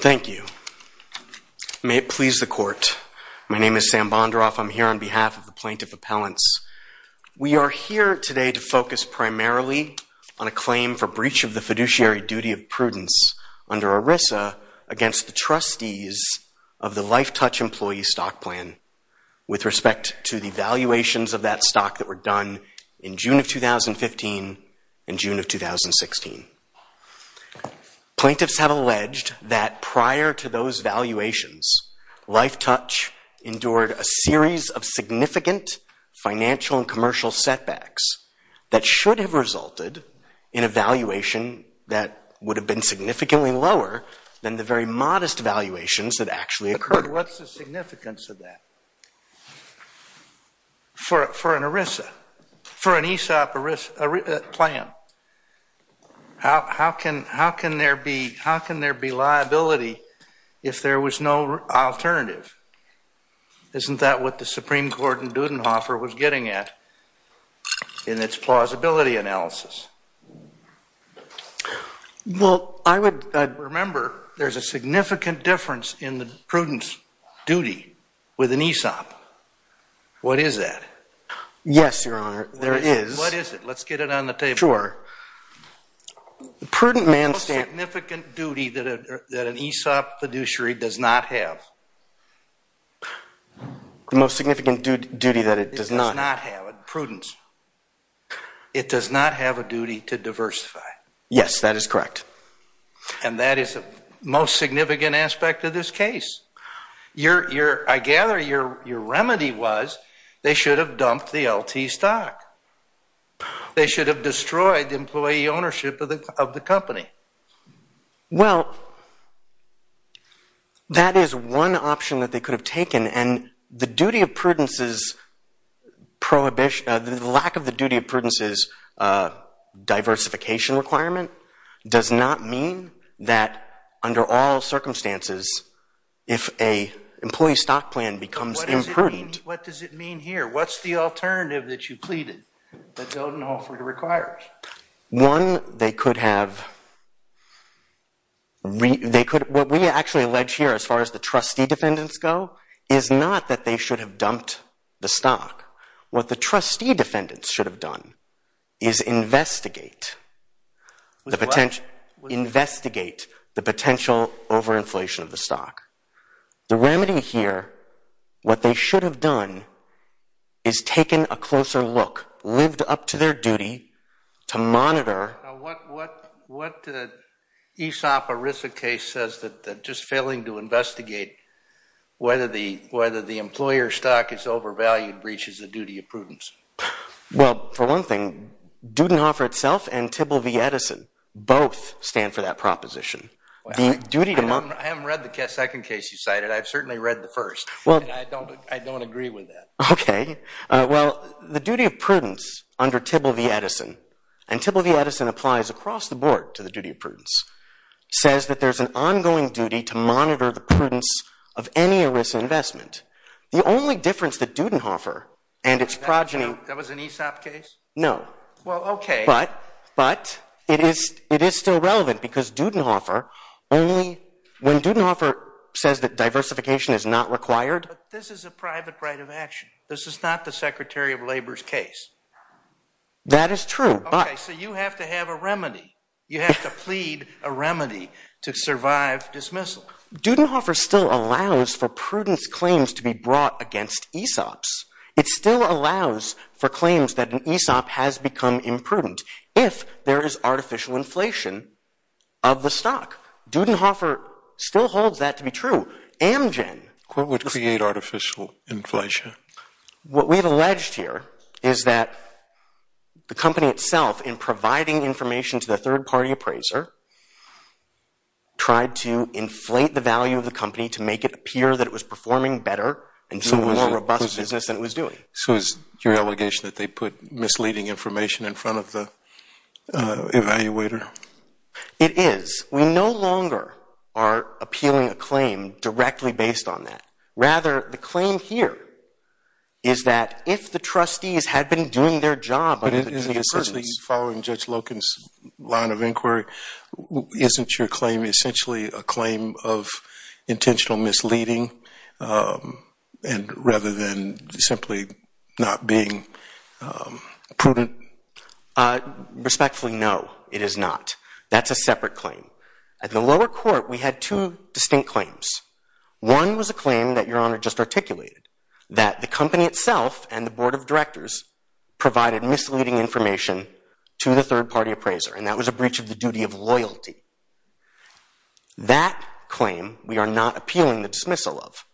Thank you. May it please the court, my name is Sam Bondaroff. I'm here on behalf of the plaintiff appellants. We are here today to focus primarily on a claim for breach of the fiduciary duty of prudence under ERISA against the trustees of the LifeTouch employee stock plan with respect to the valuations of that stock that were done in June of 2015 and June of 2016. Plaintiffs have alleged that prior to those valuations, LifeTouch endured a series of significant financial and commercial setbacks that should have resulted in a valuation that would have been significantly lower than the very modest valuations that actually occurred. What's the significance of that for an ERISA, for an ESOP plan? How can there be liability if there was no alternative? Isn't that what the Supreme Court in Dudenhofer was getting at in its plausibility analysis? Remember, there's a significant difference in the prudence duty with an ESOP. What is that? Yes, Your Honor, there is. What is it? Let's get it on the table. Sure. The most significant duty that an ESOP fiduciary does not have. The most significant duty that it does not have? Prudence. It does not have a duty to diversify. Yes, that is correct. And that is the most significant aspect of this case. I gather your remedy was they should have dumped the LT stock. They should have destroyed the employee ownership of the company. Well, that is one option that they could have taken. And the lack of the duty of prudence's diversification requirement does not mean that under all circumstances, if an employee stock plan becomes imprudent. What does it mean here? What's the alternative that you pleaded that Dudenhofer requires? One, they could have, what we actually allege here as far as the trustee defendants go, is not that they should have dumped the stock. What the trustee defendants should have done is investigate the potential overinflation of the stock. The remedy here, what they should have done is taken a closer look, lived up to their duty to monitor. Now, what the Aesop or Risa case says that just failing to investigate whether the employer stock is overvalued breaches the duty of prudence? Well, for one thing, Dudenhofer itself and Tibble v. Edison both stand for that proposition. I haven't read the second case you cited. I've certainly read the first. I don't agree with that. Okay. Well, the duty of prudence under Tibble v. Edison, and Tibble v. Edison applies across the board to the duty of prudence, says that there's an ongoing duty to monitor the prudence of any Risa investment. The only difference that Dudenhofer and its progeny... That was an Aesop case? No. Well, okay. But it is still relevant because Dudenhofer only, when Dudenhofer says that diversification is not required... But this is a private right of action. This is not the Secretary of Labor's case. That is true, but... Okay. So you have to have a remedy. You have to plead a remedy to survive dismissal. Dudenhofer still allows for prudence claims to be brought against Aesop's. It still allows for claims that an Aesop has become imprudent if there is artificial inflation of the stock. Dudenhofer still holds that to be true. Amgen... What would create artificial inflation? What we've alleged here is that the company itself, in providing information to the third-party appraiser, tried to inflate the value of the company to make it appear that it was performing better and doing a more robust business than it was doing. So is your allegation that they put misleading information in front of the evaluator? No. It is. We no longer are appealing a claim directly based on that. Rather, the claim here is that if the trustees had been doing their job... But essentially, following Judge Loken's line of inquiry, isn't your claim essentially a claim of intentional misleading rather than simply not being prudent? Respectfully, no. It is not. That's a separate claim. At the lower court, we had two distinct claims. One was a claim that Your Honor just articulated, that the company itself and the board of directors provided misleading information to the third-party appraiser, and that was a breach of the duty of loyalty. That claim we are not appealing the dismissal of.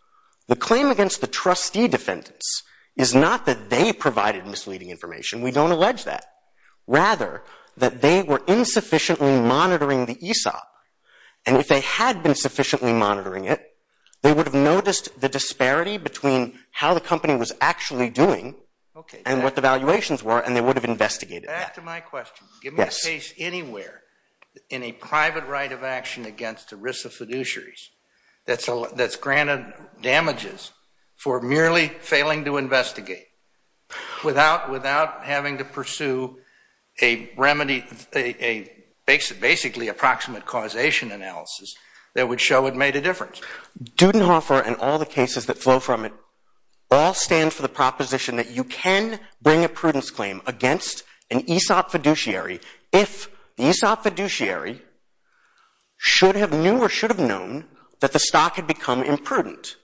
The claim against the trustee defendants is not that they provided misleading information. We don't allege that. Rather, that they were insufficiently monitoring the ESOP, and if they had been sufficiently monitoring it, they would have noticed the disparity between how the company was actually doing and what the valuations were, and they would have investigated that. Back to my question. Give me a case anywhere in a private right of action against ERISA fiduciaries that's granted damages for merely failing to investigate without having to pursue a remedy, a basically approximate causation analysis that would show it made a difference. Dudenhofer and all the cases that flow from it all stand for the proposition that you can bring a prudence claim against an ESOP fiduciary if the ESOP fiduciary should have knew or should have known that the stock had become imprudent.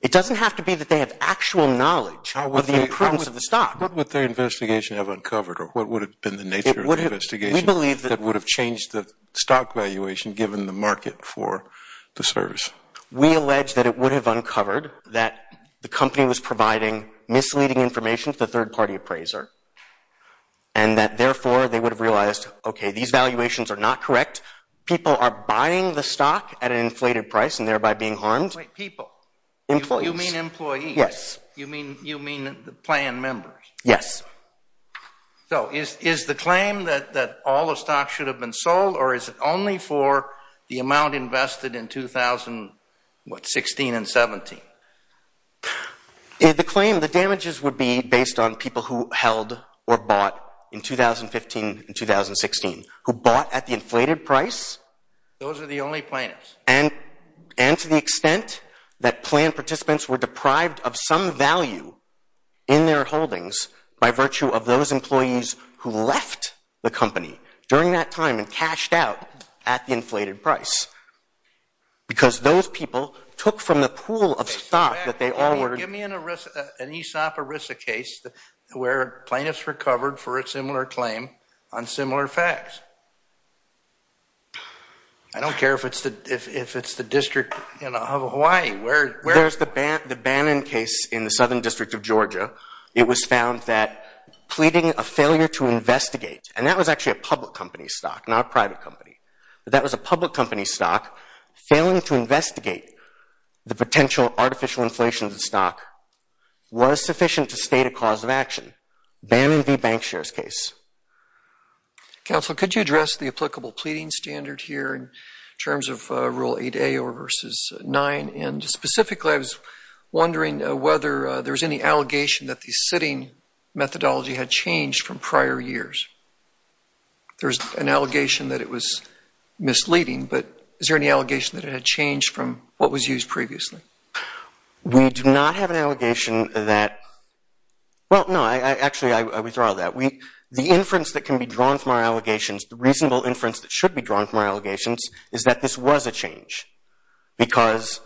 It doesn't have to be that they have actual knowledge of the imprudence of the stock. What would their investigation have uncovered, or what would have been the nature of the investigation that would have changed the stock valuation given the market for the service? We allege that it would have uncovered that the company was providing misleading information to the third-party appraiser, and that therefore they would have realized, okay, these valuations are not correct. People are buying the stock at an inflated price and thereby being harmed. Wait, people? Employees. You mean employees? Yes. You mean the plan members? Yes. So is the claim that all the stock should have been sold, or is it only for the amount invested in 2016 and 17? The claim, the damages would be based on people who held or bought in 2015 and 2016, who bought at the inflated price. Those are the only plaintiffs. And to the extent that plan participants were deprived of some value in their holdings by virtue of those employees who left the company during that time and cashed out at the inflated price, because those people took from the pool of stock that they all ordered. Give me an ESOP ERISA case where plaintiffs recovered for a similar claim on similar facts. I don't care if it's the district of Hawaii. There's the Bannon case in the Southern District of Georgia. It was found that pleading a failure to investigate, and that was actually a public company stock, not a private company, but that was a public company stock, failing to investigate the potential artificial inflation of the stock was sufficient to state a cause of action, Bannon v. Bankshare's case. Counsel, could you address the applicable pleading standard here in terms of Rule 8a or verses 9? And specifically, I was wondering whether there was any allegation that the sitting methodology had changed from prior years. There's an allegation that it was misleading, but is there any allegation that it had changed from what was used previously? We do not have an allegation that – well, no, actually I withdraw that. The inference that can be drawn from our allegations, the reasonable inference that should be drawn from our allegations, is that this was a change, because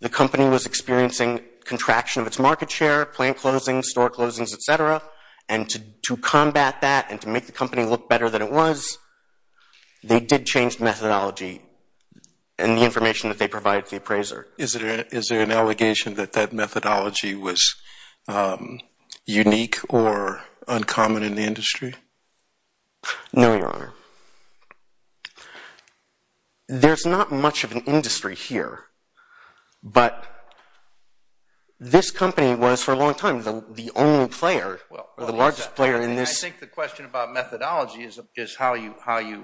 the company was experiencing contraction of its market share, plant closings, store closings, et cetera, and to combat that and to make the company look better than it was, they did change the methodology and the information that they provided to the appraiser. Is there an allegation that that methodology was unique or uncommon in the industry? No, Your Honor. There's not much of an industry here, but this company was for a long time the only player, the largest player in this. I think the question about methodology is how you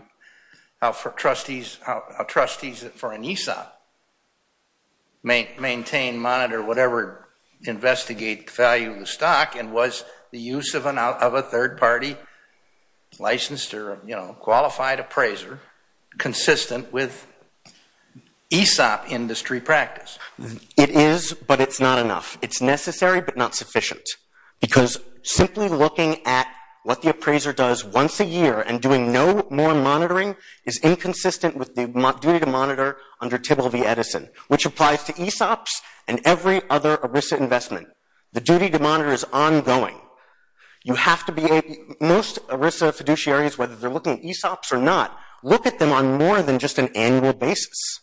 – how trustees for an ESOP maintain, monitor, whatever, investigate the value of the stock, and was the use of a third-party licensed or qualified appraiser consistent with ESOP industry practice? It is, but it's not enough. It's necessary, but not sufficient, because simply looking at what the appraiser does once a year and doing no more monitoring is inconsistent with the duty to monitor under Tibble v. Edison, which applies to ESOPs and every other ERISA investment. The duty to monitor is ongoing. You have to be able – most ERISA fiduciaries, whether they're looking at ESOPs or not, look at them on more than just an annual basis.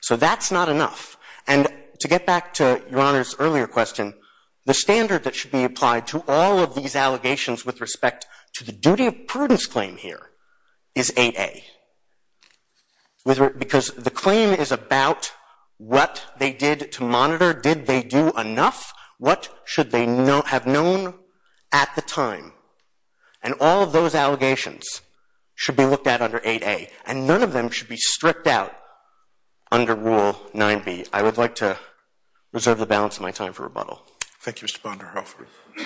So that's not enough. And to get back to Your Honor's earlier question, the standard that should be applied to all of these allegations with respect to the duty of prudence claim here is AA, because the claim is about what they did to monitor. Did they do enough? What should they have known at the time? And all of those allegations should be looked at under 8A, and none of them should be stripped out under Rule 9B. I would like to reserve the balance of my time for rebuttal. Thank you, Mr. Bonner. Ms.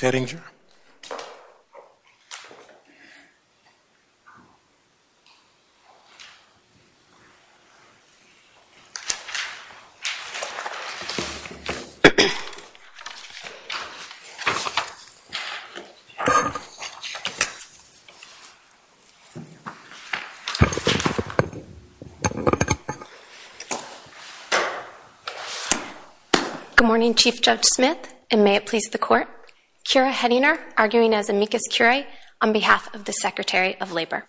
Hedinger? Thank you. Good morning, Chief Judge Smith, and may it please the Court. Kira Hedinger, arguing as amicus curiae on behalf of the Secretary of Labor.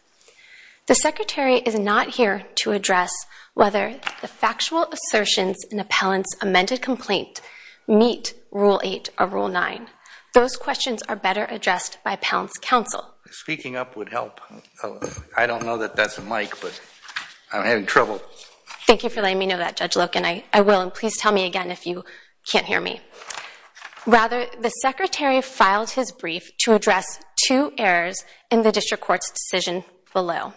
The Secretary is not here to address whether the factual assertions in an appellant's amended complaint meet Rule 8 or Rule 9. Those questions are better addressed by an appellant's counsel. Speaking up would help. I don't know that that's a mic, but I'm having trouble. Thank you for letting me know that, Judge Loken. I will, and please tell me again if you can't hear me. Rather, the Secretary filed his brief to address two errors in the District Court's decision below.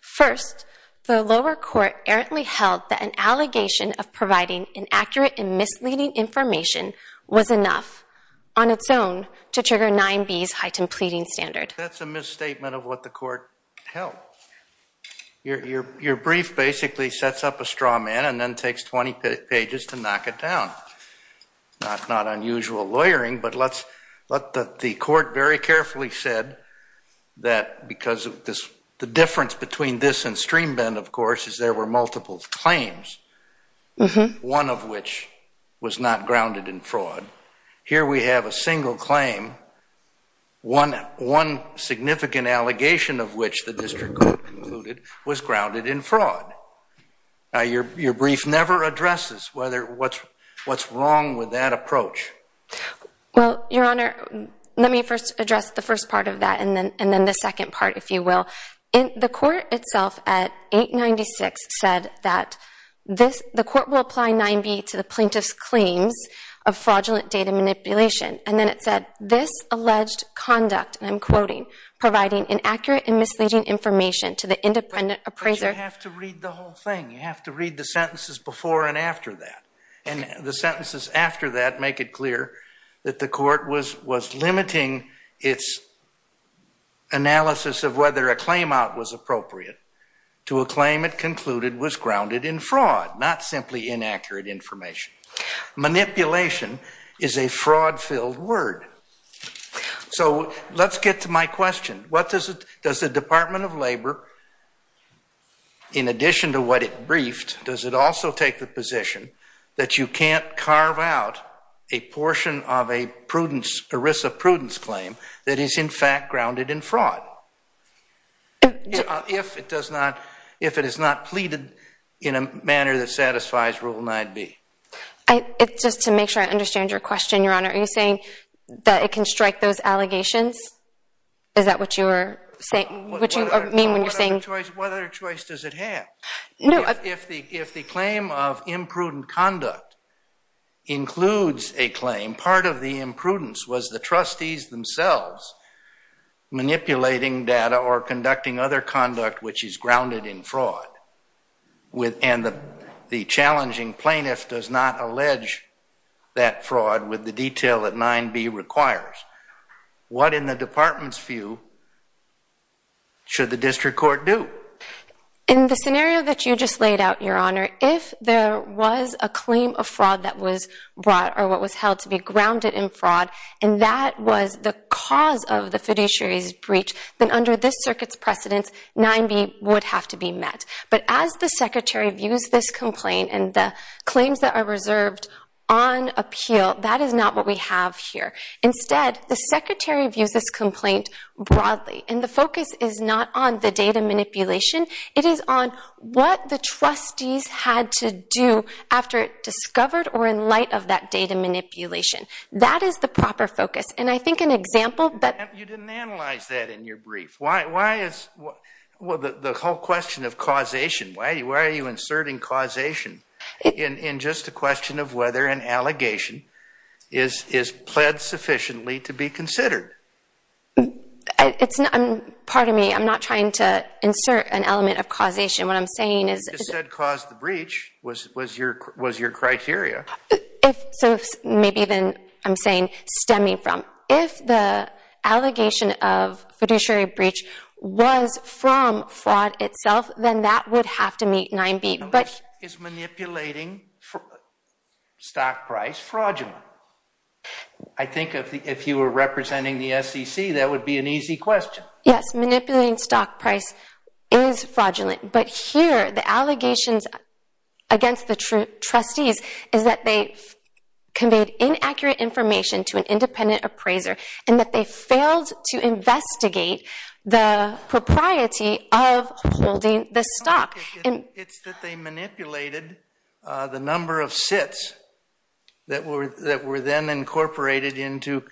First, the lower court errantly held that an allegation of providing inaccurate and misleading information was enough on its own to trigger 9B's heightened pleading standard. That's a misstatement of what the court held. Your brief basically sets up a straw man and then takes 20 pages to knock it down. Not unusual lawyering, but let's let the court very carefully said that because the difference between this and Streambend, of course, is there were multiple claims, one of which was not grounded in fraud. Here we have a single claim, one significant allegation of which the District Court concluded was grounded in fraud. Your brief never addresses what's wrong with that approach. Well, Your Honor, let me first address the first part of that and then the second part, if you will. The court itself at 896 said that the court will apply 9B to the plaintiff's claims of fraudulent data manipulation. And then it said, this alleged conduct, and I'm quoting, providing inaccurate and misleading information to the independent appraiser. But you have to read the whole thing. You have to read the sentences before and after that. And the sentences after that make it clear that the court was limiting its analysis of whether a claim out was appropriate to a claim it concluded was grounded in fraud, not simply inaccurate information. Manipulation is a fraud-filled word. So let's get to my question. Does the Department of Labor, in addition to what it briefed, does it also take the position that you can't carve out a portion of a risk of prudence claim that is, in fact, grounded in fraud if it is not pleaded in a manner that satisfies Rule 9B? Just to make sure I understand your question, Your Honor, are you saying that it can strike those allegations? Is that what you mean when you're saying... What other choice does it have? If the claim of imprudent conduct includes a claim, part of the imprudence was the trustees themselves manipulating data or conducting other conduct which is grounded in fraud, and the challenging plaintiff does not allege that fraud with the detail that 9B requires, what, in the Department's view, should the district court do? In the scenario that you just laid out, Your Honor, if there was a claim of fraud that was brought or what was held to be grounded in fraud and that was the cause of the fiduciary's breach, then under this circuit's precedence, 9B would have to be met. But as the Secretary views this complaint and the claims that are reserved on appeal, that is not what we have here. Instead, the Secretary views this complaint broadly, and the focus is not on the data manipulation. It is on what the trustees had to do after it discovered or in light of that data manipulation. That is the proper focus. And I think an example that... You didn't analyze that in your brief. Why is the whole question of causation, why are you inserting causation in just a question of whether an allegation is pled sufficiently to be considered? Pardon me. I'm not trying to insert an element of causation. What I'm saying is... You just said cause the breach was your criteria. So maybe then I'm saying stemming from. If the allegation of fiduciary breach was from fraud itself, then that would have to meet 9B. No, this is manipulating stock price fraudulently. I think if you were representing the SEC, that would be an easy question. Yes, manipulating stock price is fraudulent. But here, the allegations against the trustees is that they conveyed inaccurate information to an independent appraiser, and that they failed to investigate the propriety of holding the stock. It's that they manipulated the number of sits that were then incorporated into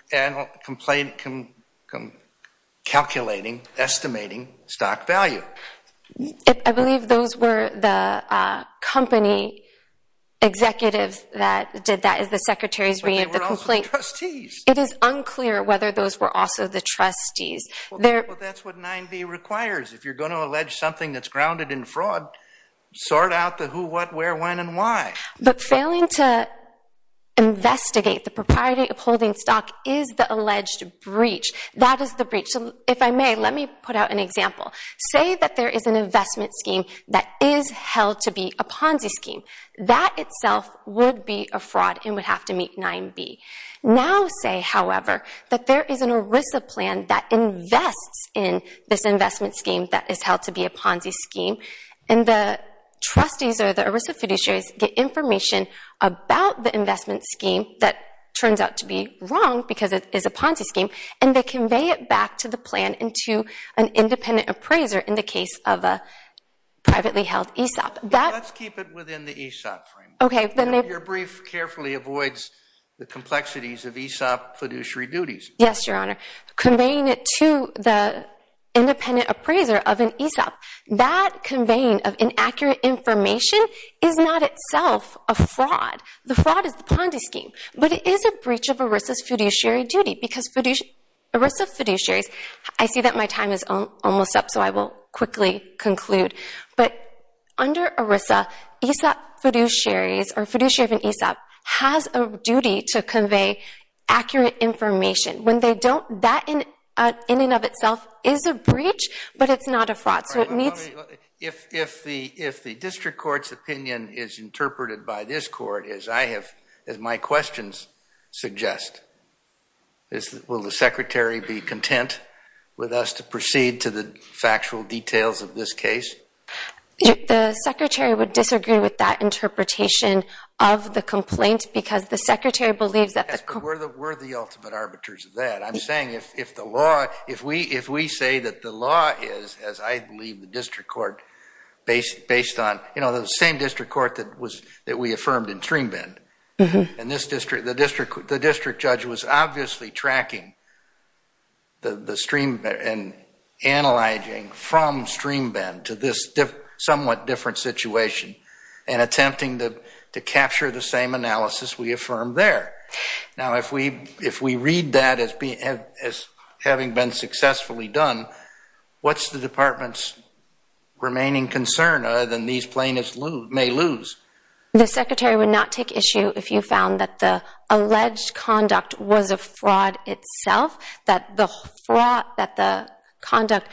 calculating, estimating stock value. I believe those were the company executives that did that. It was the Secretary's reading of the complaint. But they were also the trustees. It is unclear whether those were also the trustees. Well, that's what 9B requires. If you're going to allege something that's grounded in fraud, sort out the who, what, where, when, and why. But failing to investigate the propriety of holding stock is the alleged breach. That is the breach. If I may, let me put out an example. Say that there is an investment scheme that is held to be a Ponzi scheme. That itself would be a fraud and would have to meet 9B. Now say, however, that there is an ERISA plan that invests in this investment scheme that is held to be a Ponzi scheme, and the trustees or the ERISA fiduciaries get information about the investment scheme that turns out to be wrong because it is a Ponzi scheme, and they convey it back to the plan and to an independent appraiser in the case of a privately held ESOP. Let's keep it within the ESOP framework. Your brief carefully avoids the complexities of ESOP fiduciary duties. Yes, Your Honor. Conveying it to the independent appraiser of an ESOP. That conveying of inaccurate information is not itself a fraud. The fraud is the Ponzi scheme, but it is a breach of ERISA's fiduciary duty because ERISA fiduciaries... I see that my time is almost up, so I will quickly conclude. But under ERISA, ESOP fiduciaries or fiduciary of an ESOP has a duty to convey accurate information. That in and of itself is a breach, but it's not a fraud, so it meets... If the district court's opinion is interpreted by this court, as my questions suggest, will the secretary be content with us to proceed to the factual details of this case? The secretary would disagree with that interpretation of the complaint because the secretary believes that... Yes, but we're the ultimate arbiters of that. I'm saying if the law... The law is, as I believe the district court based on... You know, the same district court that we affirmed in StreamBend. And the district judge was obviously tracking and analyzing from StreamBend to this somewhat different situation and attempting to capture the same analysis we affirmed there. Now, if we read that as having been successfully done, what's the department's remaining concern other than these plaintiffs may lose? The secretary would not take issue if you found that the alleged conduct was a fraud itself, that the conduct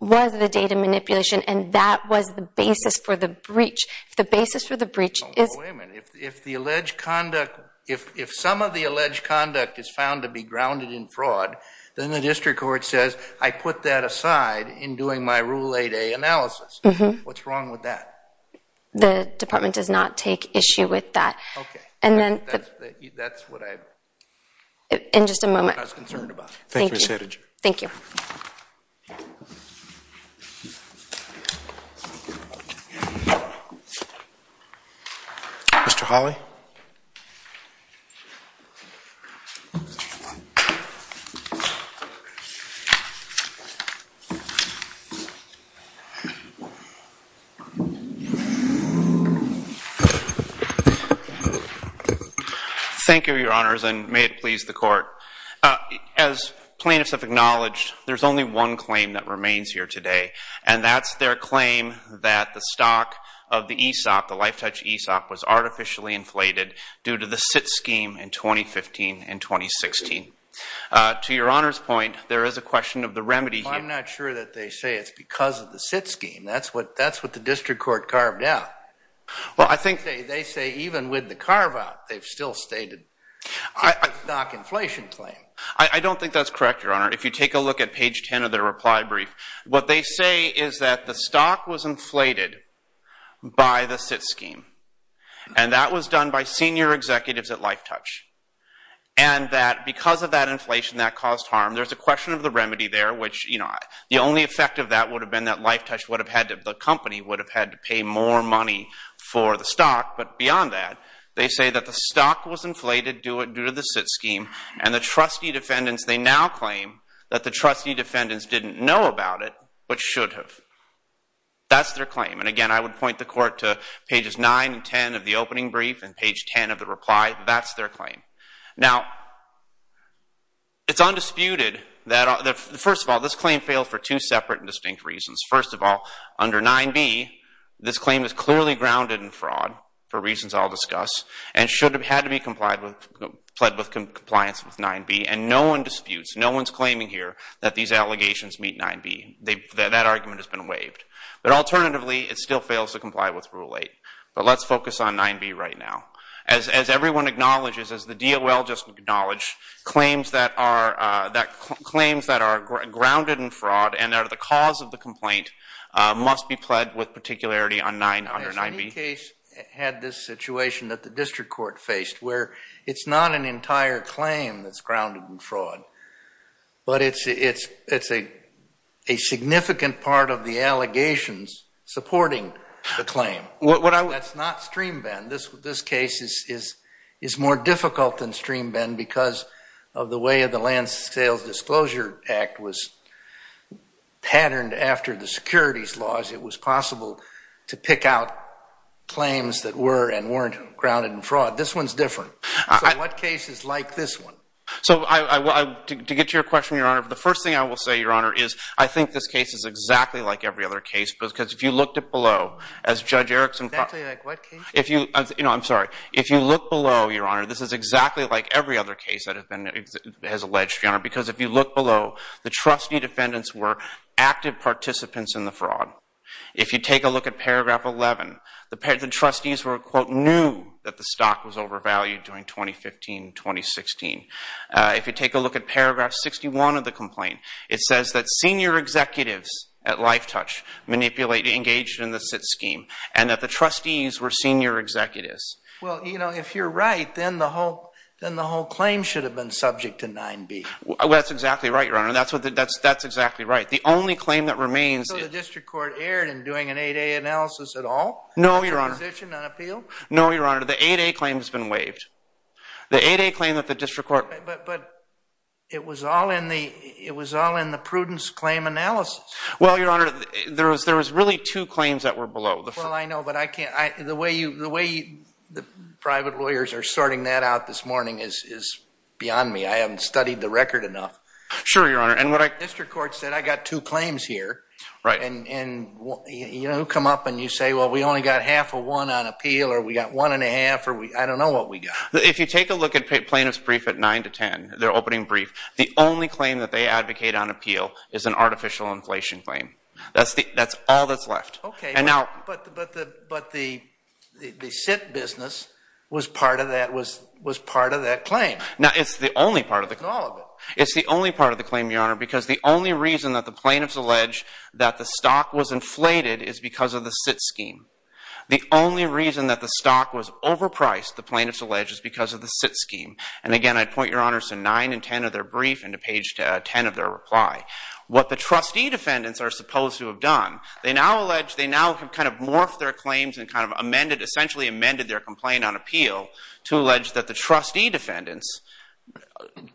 was the data manipulation and that was the basis for the breach. If the basis for the breach is... Wait a minute, if the alleged conduct... If some of the alleged conduct is found to be grounded in fraud, then the district court says, I put that aside in doing my Rule 8A analysis. Mm-hmm. What's wrong with that? The department does not take issue with that. Okay. And then... That's what I... In just a moment. That's what I was concerned about. Thank you. Thank you, Ms. Hettinger. Thank you. Mr. Hawley. Thank you, Your Honors, and may it please the court. As plaintiffs have acknowledged, there's only one claim that remains here today, and that's their claim that the stock of the ESOP, the LifeTouch ESOP, was artificially inflated due to the SIT scheme in 2015 and 2016. To Your Honor's point, there is a question of the remedy here. I'm not sure that they say it's because of the SIT scheme. That's what the district court carved out. Well, I think... They say even with the carve-out, they've still stated it's a stock inflation claim. I don't think that's correct, Your Honor. If you take a look at page 10 of their reply brief, what they say is that the stock was inflated by the SIT scheme, and that was done by senior executives at LifeTouch, and that because of that inflation, that caused harm. There's a question of the remedy there, which the only effect of that would have been that LifeTouch, the company, would have had to pay more money for the stock. But beyond that, they say that the stock was inflated due to the SIT scheme, and the trustee defendants, they now claim that the trustee defendants didn't know about it, but should have. That's their claim. And again, I would point the court to pages 9 and 10 of the opening brief, and page 10 of the reply. That's their claim. Now, it's undisputed that... First of all, this claim failed for two separate and distinct reasons. First of all, under 9b, this claim is clearly grounded in fraud, for reasons I'll discuss, and should have had to be pled with compliance with 9b. And no one disputes, no one's claiming here that these allegations meet 9b. That argument has been waived. But alternatively, it still fails to comply with Rule 8. But let's focus on 9b right now. As everyone acknowledges, as the DOL just acknowledged, claims that are grounded in fraud and are the cause of the complaint must be pled with particularity under 9b. Has any case had this situation that the district court faced, where it's not an entire claim that's grounded in fraud, but it's a significant part of the allegations supporting the claim? That's not stream-bend. This case is more difficult than stream-bend because of the way the Land Sales Disclosure Act was patterned after the securities laws. It was possible to pick out claims that were and weren't grounded in fraud. This one's different. So what cases like this one? So to get to your question, Your Honor, the first thing I will say, Your Honor, is I think this case is exactly like every other case because if you looked below, as Judge Erickson... Exactly like what case? I'm sorry. If you look below, Your Honor, this is exactly like every other case that has been alleged, Your Honor, because if you look below, the trustee defendants were active participants in the fraud. If you take a look at paragraph 11, the trustees were, quote, knew that the stock was overvalued during 2015-2016. If you take a look at paragraph 61 of the complaint, it says that... Well, you know, if you're right, then the whole claim should have been subject to 9B. Well, that's exactly right, Your Honor. That's exactly right. The only claim that remains... So the district court erred in doing an 8A analysis at all? No, Your Honor. No, Your Honor. The 8A claim has been waived. The 8A claim that the district court... But it was all in the prudence claim analysis. Well, Your Honor, there was really two claims that were below. Well, I know, but I can't... The way the private lawyers are sorting that out this morning is beyond me. I haven't studied the record enough. Sure, Your Honor, and what I... The district court said, I got two claims here. Right. And you come up and you say, well, we only got half of one on appeal, or we got one and a half, or I don't know what we got. If you take a look at plaintiffs' brief at 9 to 10, their opening brief, the only claim that they advocate on appeal is an artificial inflation claim. That's all that's left. OK, but the SIT business was part of that claim. No, it's the only part of the claim. It's the only part of the claim, Your Honor, because the only reason that the plaintiffs allege that the stock was inflated is because of the SIT scheme. The only reason that the stock was overpriced, the plaintiffs allege, is because of the SIT scheme. And again, I'd point Your Honor to 9 and 10 of their brief and to page 10 of their reply. What the trustee defendants are supposed to have done, they now allege they now have kind of morphed their claims and kind of amended, essentially amended, their complaint on appeal to allege that the trustee defendants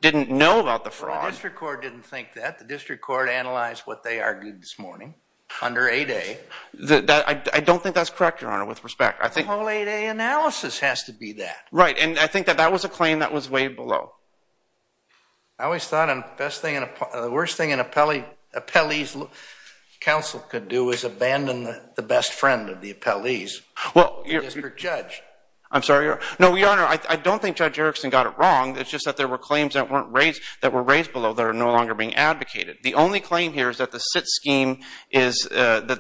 didn't know about the fraud. Well, the district court didn't think that. The district court analyzed what they argued this morning under 8A. I don't think that's correct, Your Honor, with respect. The whole 8A analysis has to be that. Right, and I think that that was a claim that was way below. I always thought the worst thing an appellee's counsel could do is abandon the best friend of the appellee's district judge. I'm sorry, Your Honor. No, Your Honor, I don't think Judge Erickson got it wrong. It's just that there were claims that were raised below that are no longer being advocated. The only claim here is that the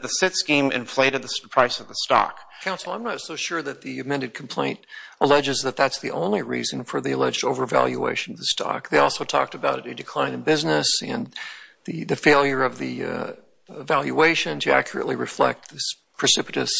SIT scheme inflated the price of the stock. Counsel, I'm not so sure that the amended complaint alleges that that's the only reason for the alleged overvaluation of the stock. They also talked about a decline in business and the failure of the valuation to accurately reflect this precipitous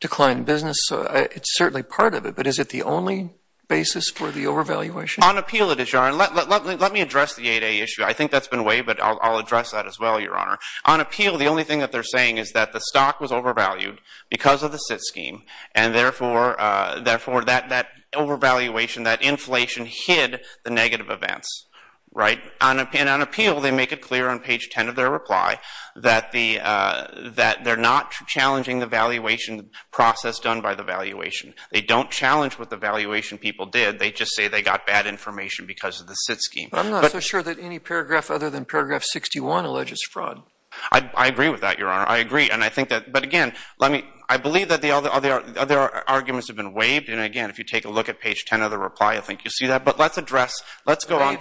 decline in business. It's certainly part of it, but is it the only basis for the overvaluation? On appeal it is, Your Honor. Let me address the 8A issue. I think that's been waived, but I'll address that as well, Your Honor. On appeal the only thing that they're saying is that the stock was overvalued because of the SIT scheme and therefore that overvaluation, that inflation, hid the negative events. On appeal they make it clear on page 10 of their reply that they're not challenging the valuation process done by the valuation. They don't challenge what the valuation people did. They just say they got bad information because of the SIT scheme. But I'm not so sure that any paragraph other than paragraph 61 alleges fraud. I agree with that, Your Honor. I agree. But again, I believe that the other arguments have been waived. And again, if you take a look at page 10 of the reply, I think you'll see that. But let's address, let's go on.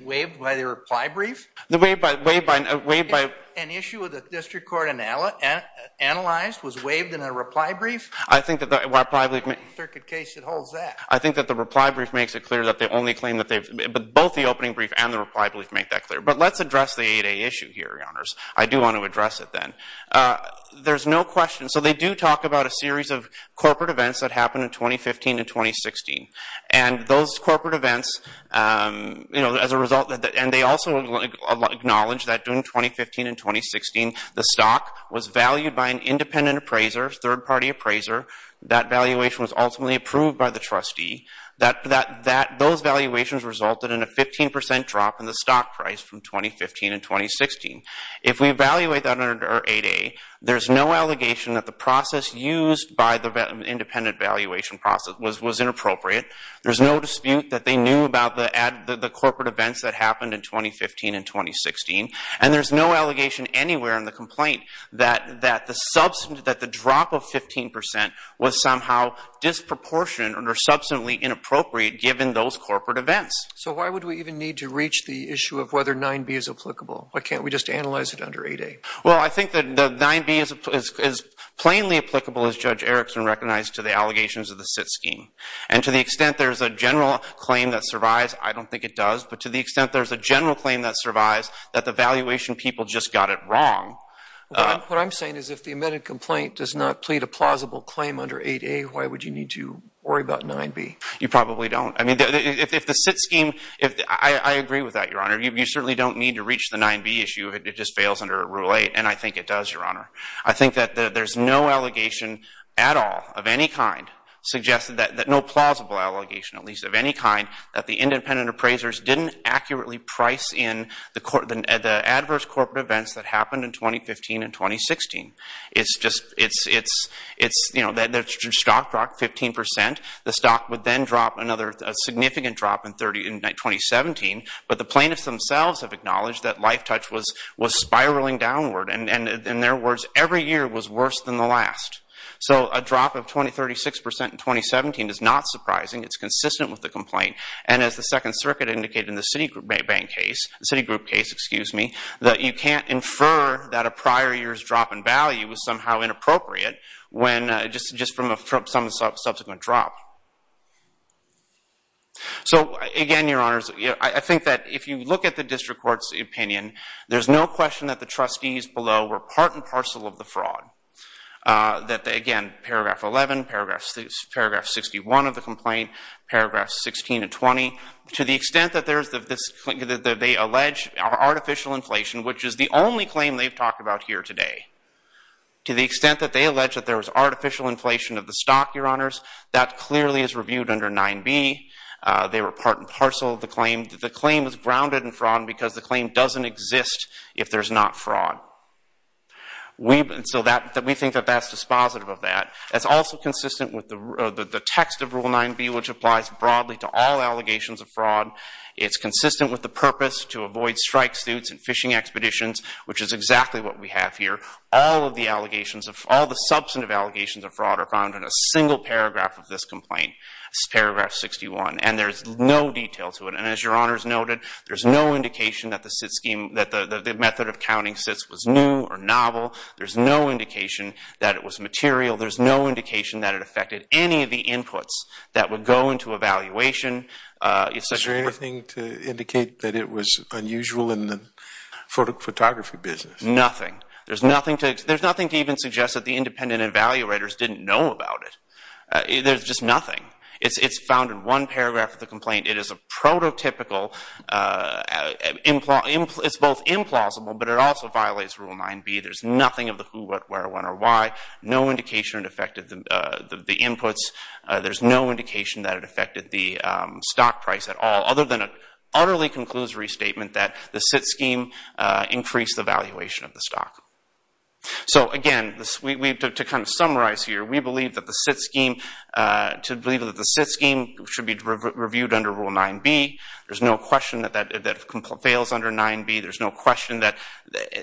Waived by the reply brief? Waived by... An issue of the district court analyzed was waived in a reply brief? I think that the reply brief... Circuit case that holds that. I think that the reply brief makes it clear that they only claim that they've... Both the opening brief and the reply brief make that clear. But let's address the 8A issue here, Your Honors. I do want to address it then. There's no question. So they do talk about a series of corporate events that happened in 2015 and 2016. And those corporate events, as a result, and they also acknowledge that during 2015 and 2016, the stock was valued by an independent appraiser, third-party appraiser. That valuation was ultimately approved by the trustee. Those valuations resulted in a 15% drop in the stock price from 2015 and 2016. If we evaluate that under 8A, there's no allegation that the process used by the independent valuation process was inappropriate. There's no dispute that they knew about the corporate events that happened in 2015 and 2016. And there's no allegation anywhere in the complaint that the drop of 15% was somehow disproportionate or substantially inappropriate, given those corporate events. So why would we even need to reach the issue of whether 9B is applicable? Why can't we just analyze it under 8A? Well, I think that 9B is plainly applicable, as Judge Erickson recognized, to the allegations of the SIT scheme. And to the extent there's a general claim that survives, I don't think it does. But to the extent there's a general claim that survives, that the valuation people just got it wrong. What I'm saying is if the amended complaint does not plead a plausible claim under 8A, why would you need to worry about 9B? You probably don't. I mean, if the SIT scheme... I agree with that, Your Honor. You certainly don't need to reach the 9B issue. It just fails under Rule 8. And I think it does, Your Honor. I think that there's no allegation at all of any kind suggesting that... no plausible allegation, at least of any kind, that the independent appraisers didn't accurately price in the adverse corporate events that happened in 2015 and 2016. It's just... you know, the stock dropped 15%. The stock would then drop another significant drop in 2017. But the plaintiffs themselves have acknowledged that LifeTouch was spiraling downward. And in their words, every year was worse than the last. So a drop of 26% in 2017 is not surprising. It's consistent with the complaint. And as the Second Circuit indicated in the Citigroup case, that you can't infer that a prior year's drop in value was somehow inappropriate just from some subsequent drop. So again, Your Honors, I think that if you look at the district court's opinion, there's no question that the trustees below were part and parcel of the fraud. Again, Paragraph 11, Paragraph 61 of the complaint, Paragraphs 16 and 20, to the extent that they allege artificial inflation, which is the only claim they've talked about here today, to the extent that they allege that there was artificial inflation of the stock, Your Honors, that clearly is reviewed under 9b. They were part and parcel of the claim. The claim is grounded in fraud because the claim doesn't exist if there's not fraud. So we think that that's dispositive of that. That's also consistent with the text of Rule 9b, which applies broadly to all allegations of fraud. It's consistent with the purpose to avoid strike suits and fishing expeditions, which is exactly what we have here. All the substantive allegations of fraud are found in a single paragraph of this complaint, Paragraph 61. And there's no detail to it. And as Your Honors noted, there's no indication that the method of counting sits was new or novel. There's no indication that it was material. There's no indication that it affected any of the inputs that would go into evaluation. Is there anything to indicate that it was unusual in the photography business? Nothing. There's nothing to even suggest that the independent evaluators didn't know about it. There's just nothing. It's found in one paragraph of the complaint. It is a prototypical, it's both implausible, but it also violates Rule 9b. There's nothing of the who, what, where, when, or why. No indication it affected the inputs. There's no indication that it affected the stock price at all, other than an utterly conclusory statement that the sit scheme increased the valuation of the stock. So again, to kind of summarize here, we believe that the sit scheme should be reviewed under Rule 9b. There's no question that that fails under 9b. There's no question that...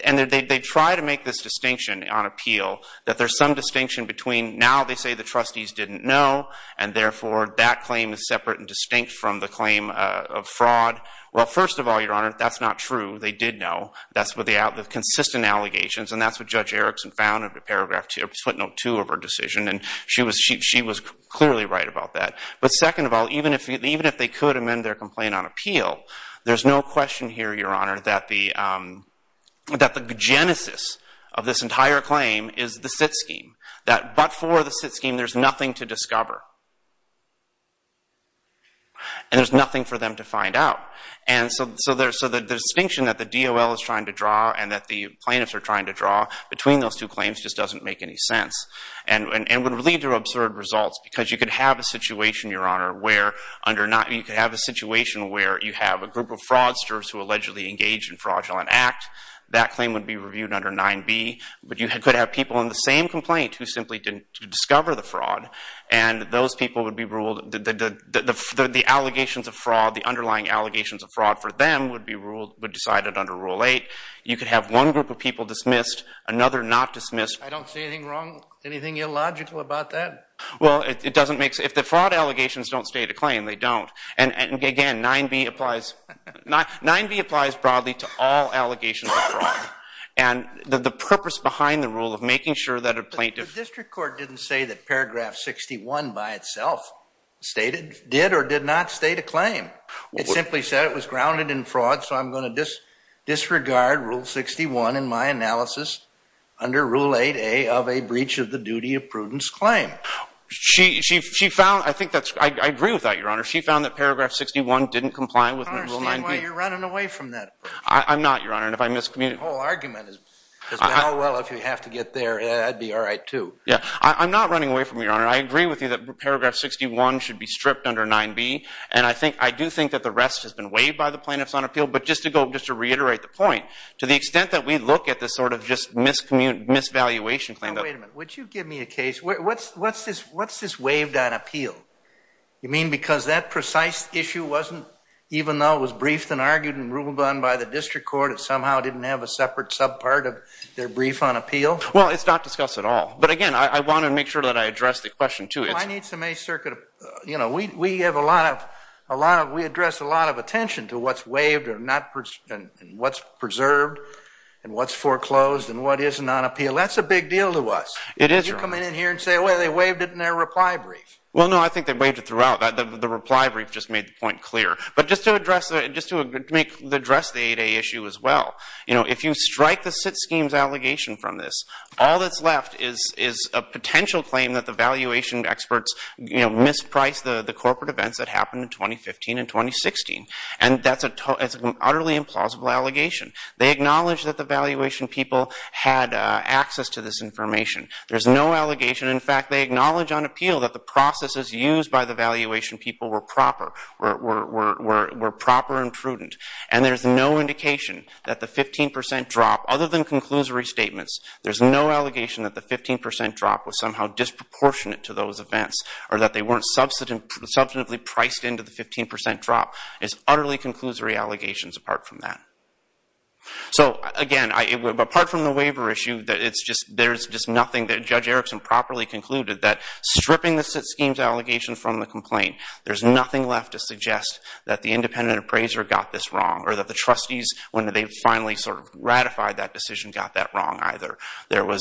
And they try to make this distinction on appeal that there's some distinction between, now they say the trustees didn't know, and therefore that claim is separate and distinct from the claim of fraud. Well, first of all, Your Honor, that's not true. They did know. That's with the consistent allegations, and that's what Judge Erickson found in paragraph 2, footnote 2 of her decision, and she was clearly right about that. But second of all, even if they could amend their complaint on appeal, there's no question here, Your Honor, that the genesis of this entire claim is the sit scheme, that but for the sit scheme, there's nothing to discover, and there's nothing for them to find out. And so the distinction that the DOL is trying to draw and that the plaintiffs are trying to draw between those two claims just doesn't make any sense and would lead to absurd results because you could have a situation, Your Honor, where under 9... You could have a situation where you have a group of fraudsters who allegedly engaged in fraudulent act. That claim would be reviewed under 9B, but you could have people in the same complaint who simply didn't discover the fraud, and those people would be ruled... The allegations of fraud, the underlying allegations of fraud for them would be decided under Rule 8. You could have one group of people dismissed, another not dismissed. I don't see anything wrong, anything illogical about that. Well, it doesn't make... If the fraud allegations don't stay the claim, they don't. And again, 9B applies... 9B applies broadly to all allegations of fraud. And the purpose behind the rule of making sure that a plaintiff... The district court didn't say that paragraph 61 by itself did or did not state a claim. It simply said it was grounded in fraud, so I'm going to disregard Rule 61 in my analysis under Rule 8A of a breach of the duty of prudence claim. She found... I think that's... I agree with that, Your Honor. She found that paragraph 61 didn't comply with Rule 9B. I don't understand why you're running away from that. I'm not, Your Honor, and if I miscommunicate... The whole argument is, if you have to get there, that'd be all right, too. Yeah, I'm not running away from it, Your Honor. I agree with you that paragraph 61 should be stripped under 9B, and I do think that the rest has been waived by the plaintiffs on appeal, but just to reiterate the point, to the extent that we look at this sort of just misvaluation claim... Now, wait a minute. Would you give me a case... What's this waived on appeal? You mean because that precise issue wasn't... Even though it was briefed and argued and ruled on by the district court, it somehow didn't have a separate subpart of their brief on appeal? Well, it's not discussed at all, but again, I want to make sure that I address the question, too. Well, I need some... You know, we have a lot of... We address a lot of attention to what's waived and what's preserved and what's foreclosed and what isn't on appeal. That's a big deal to us. You come in here and say, wait, they waived it in their reply brief. Well, no, I think they waived it throughout. The reply brief just made the point clear. But just to address the 8A issue as well, if you strike the SIT schemes allegation from this, all that's left is a potential claim that the valuation experts mispriced the corporate events that happened in 2015 and 2016, and that's an utterly implausible allegation. They acknowledged that the valuation people had access to this information. There's no allegation. In fact, they acknowledge on appeal that the processes used by the valuation people were proper and prudent. And there's no indication that the 15% drop, other than conclusory statements, there's no allegation that the 15% drop was somehow disproportionate to those events or that they weren't substantively priced into the 15% drop. It's utterly conclusory allegations apart from that. So, again, apart from the waiver issue, there's just nothing that Judge Erickson properly concluded that stripping the SIT schemes allegation from the complaint, there's nothing left to suggest that the independent appraiser got this wrong or that the trustees, when they finally sort of ratified that decision, got that wrong either. There were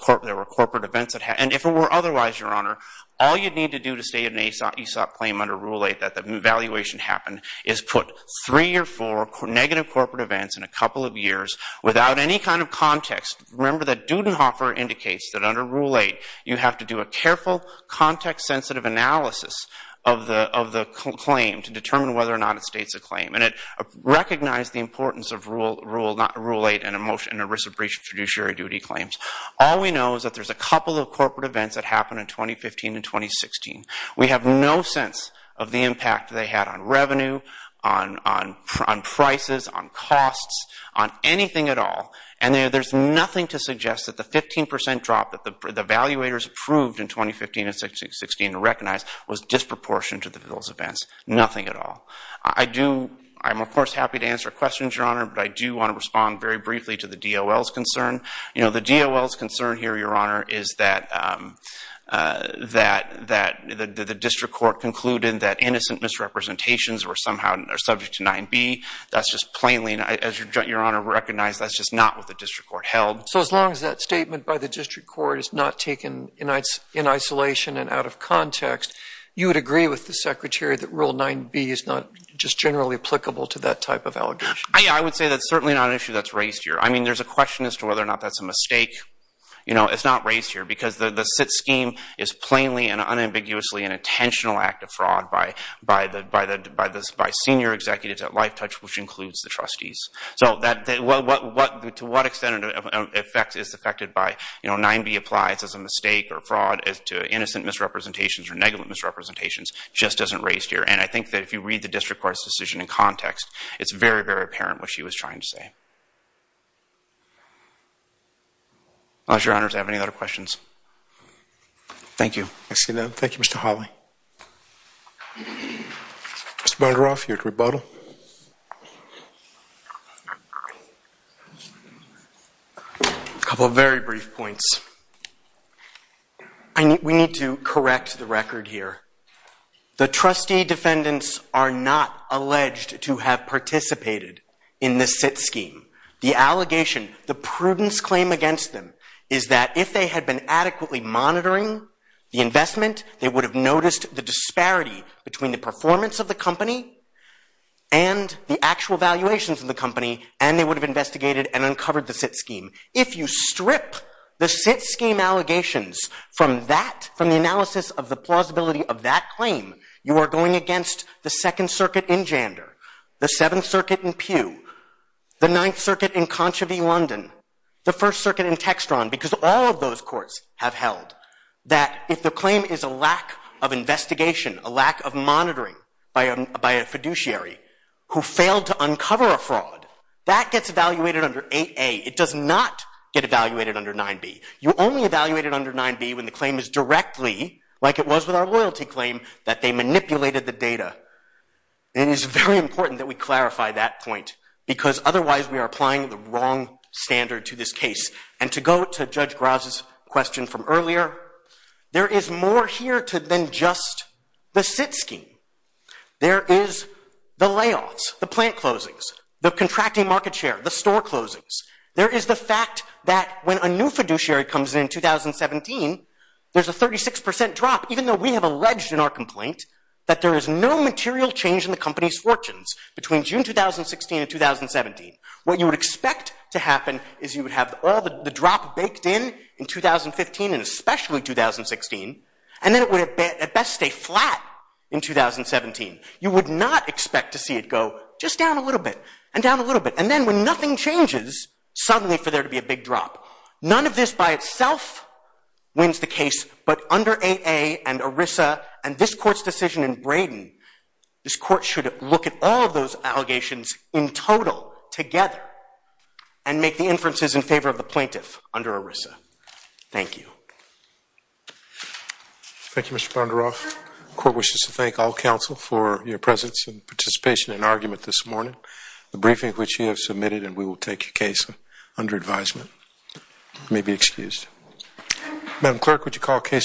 corporate events that happened. And if it were otherwise, Your Honor, all you'd need to do to state an AESOP claim under Rule 8 that the valuation happened is put three or four negative corporate events in a couple of years without any kind of context. Remember that Dudenhofer indicates that under Rule 8 you have to do a careful, context-sensitive analysis of the claim to determine whether or not it states a claim. And it recognized the importance of Rule 8 and a risk of breach of judiciary duty claims. All we know is that there's a couple of corporate events that happened in 2015 and 2016. We have no sense of the impact they had on revenue, on prices, on costs, on anything at all. And there's nothing to suggest that the 15% drop that the evaluators approved in 2015 and 2016 to recognize was disproportionate to those events. Nothing at all. I'm, of course, happy to answer questions, Your Honor, but I do want to respond very briefly to the DOL's concern. You know, the DOL's concern here, Your Honor, is that the district court concluded that innocent misrepresentations were somehow subject to 9B. That's just plainly, as Your Honor recognized, that's just not what the district court held. So as long as that statement by the district court is not taken in isolation and out of context, you would agree with the Secretary that Rule 9B is not just generally applicable to that type of allegation? Yeah, I would say that's certainly not an issue that's raised here. I mean, there's a question as to whether or not that's a mistake. You know, it's not raised here because the SIT scheme is plainly and unambiguously an intentional act of fraud by senior executives at LifeTouch, which includes the trustees. So to what extent is it affected by, you know, 9B applies as a mistake or fraud as to innocent misrepresentations or negligent misrepresentations just isn't raised here. And I think that if you read the district court's decision in context, it's very, very apparent what she was trying to say. Unless your honors have any other questions. Thank you. Thank you, Mr. Hawley. Mr. Bergeroff, you're at rebuttal. A couple of very brief points. We need to correct the record here. The trustee defendants are not alleged to have participated in the SIT scheme. The allegation, the prudence claim against them is that if they had been adequately monitoring the investment, they would have noticed the disparity between the performance of the company and the actual valuations of the company, and they would have investigated and uncovered the SIT scheme. If you strip the SIT scheme allegations from that, from the analysis of the plausibility of that claim, you are going against the Second Circuit in Jander, the Seventh Circuit in Pew, the Ninth Circuit in Conchavie, London, the First Circuit in Textron, because all of those courts have held that if the claim is a lack of investigation, a lack of monitoring by a fiduciary who failed to uncover a fraud, that gets evaluated under 8A. It does not get evaluated under 9B. You only evaluate it under 9B when the claim is directly, like it was with our loyalty claim, that they manipulated the data. It is very important that we clarify that point, because otherwise we are applying the wrong standard to this case. And to go to Judge Graz's question from earlier, there is more here than just the SIT scheme. There is the layoffs, the plant closings, the contracting market share, the store closings. There is the fact that when a new fiduciary comes in in 2017, there's a 36% drop, even though we have alleged in our complaint that there is no material change in the company's fortunes between June 2016 and 2017. What you would expect to happen is you would have all the drop baked in in 2015 and especially 2016, and then it would at best stay flat in 2017. You would not expect to see it go just down a little bit, and down a little bit, and then when nothing changes, suddenly for there to be a big drop. None of this by itself wins the case, but under AA and ERISA and this court's decision in Braden, this court should look at all of those allegations in total, together, and make the inferences in favor of the plaintiff under ERISA. Thank you. Thank you, Mr. Bondaroff. The court wishes to thank all counsel for your presence and participation in argument this morning, the briefing which you have submitted, and we will take your case under advisement. You may be excused. Madam Clerk, would you call the case?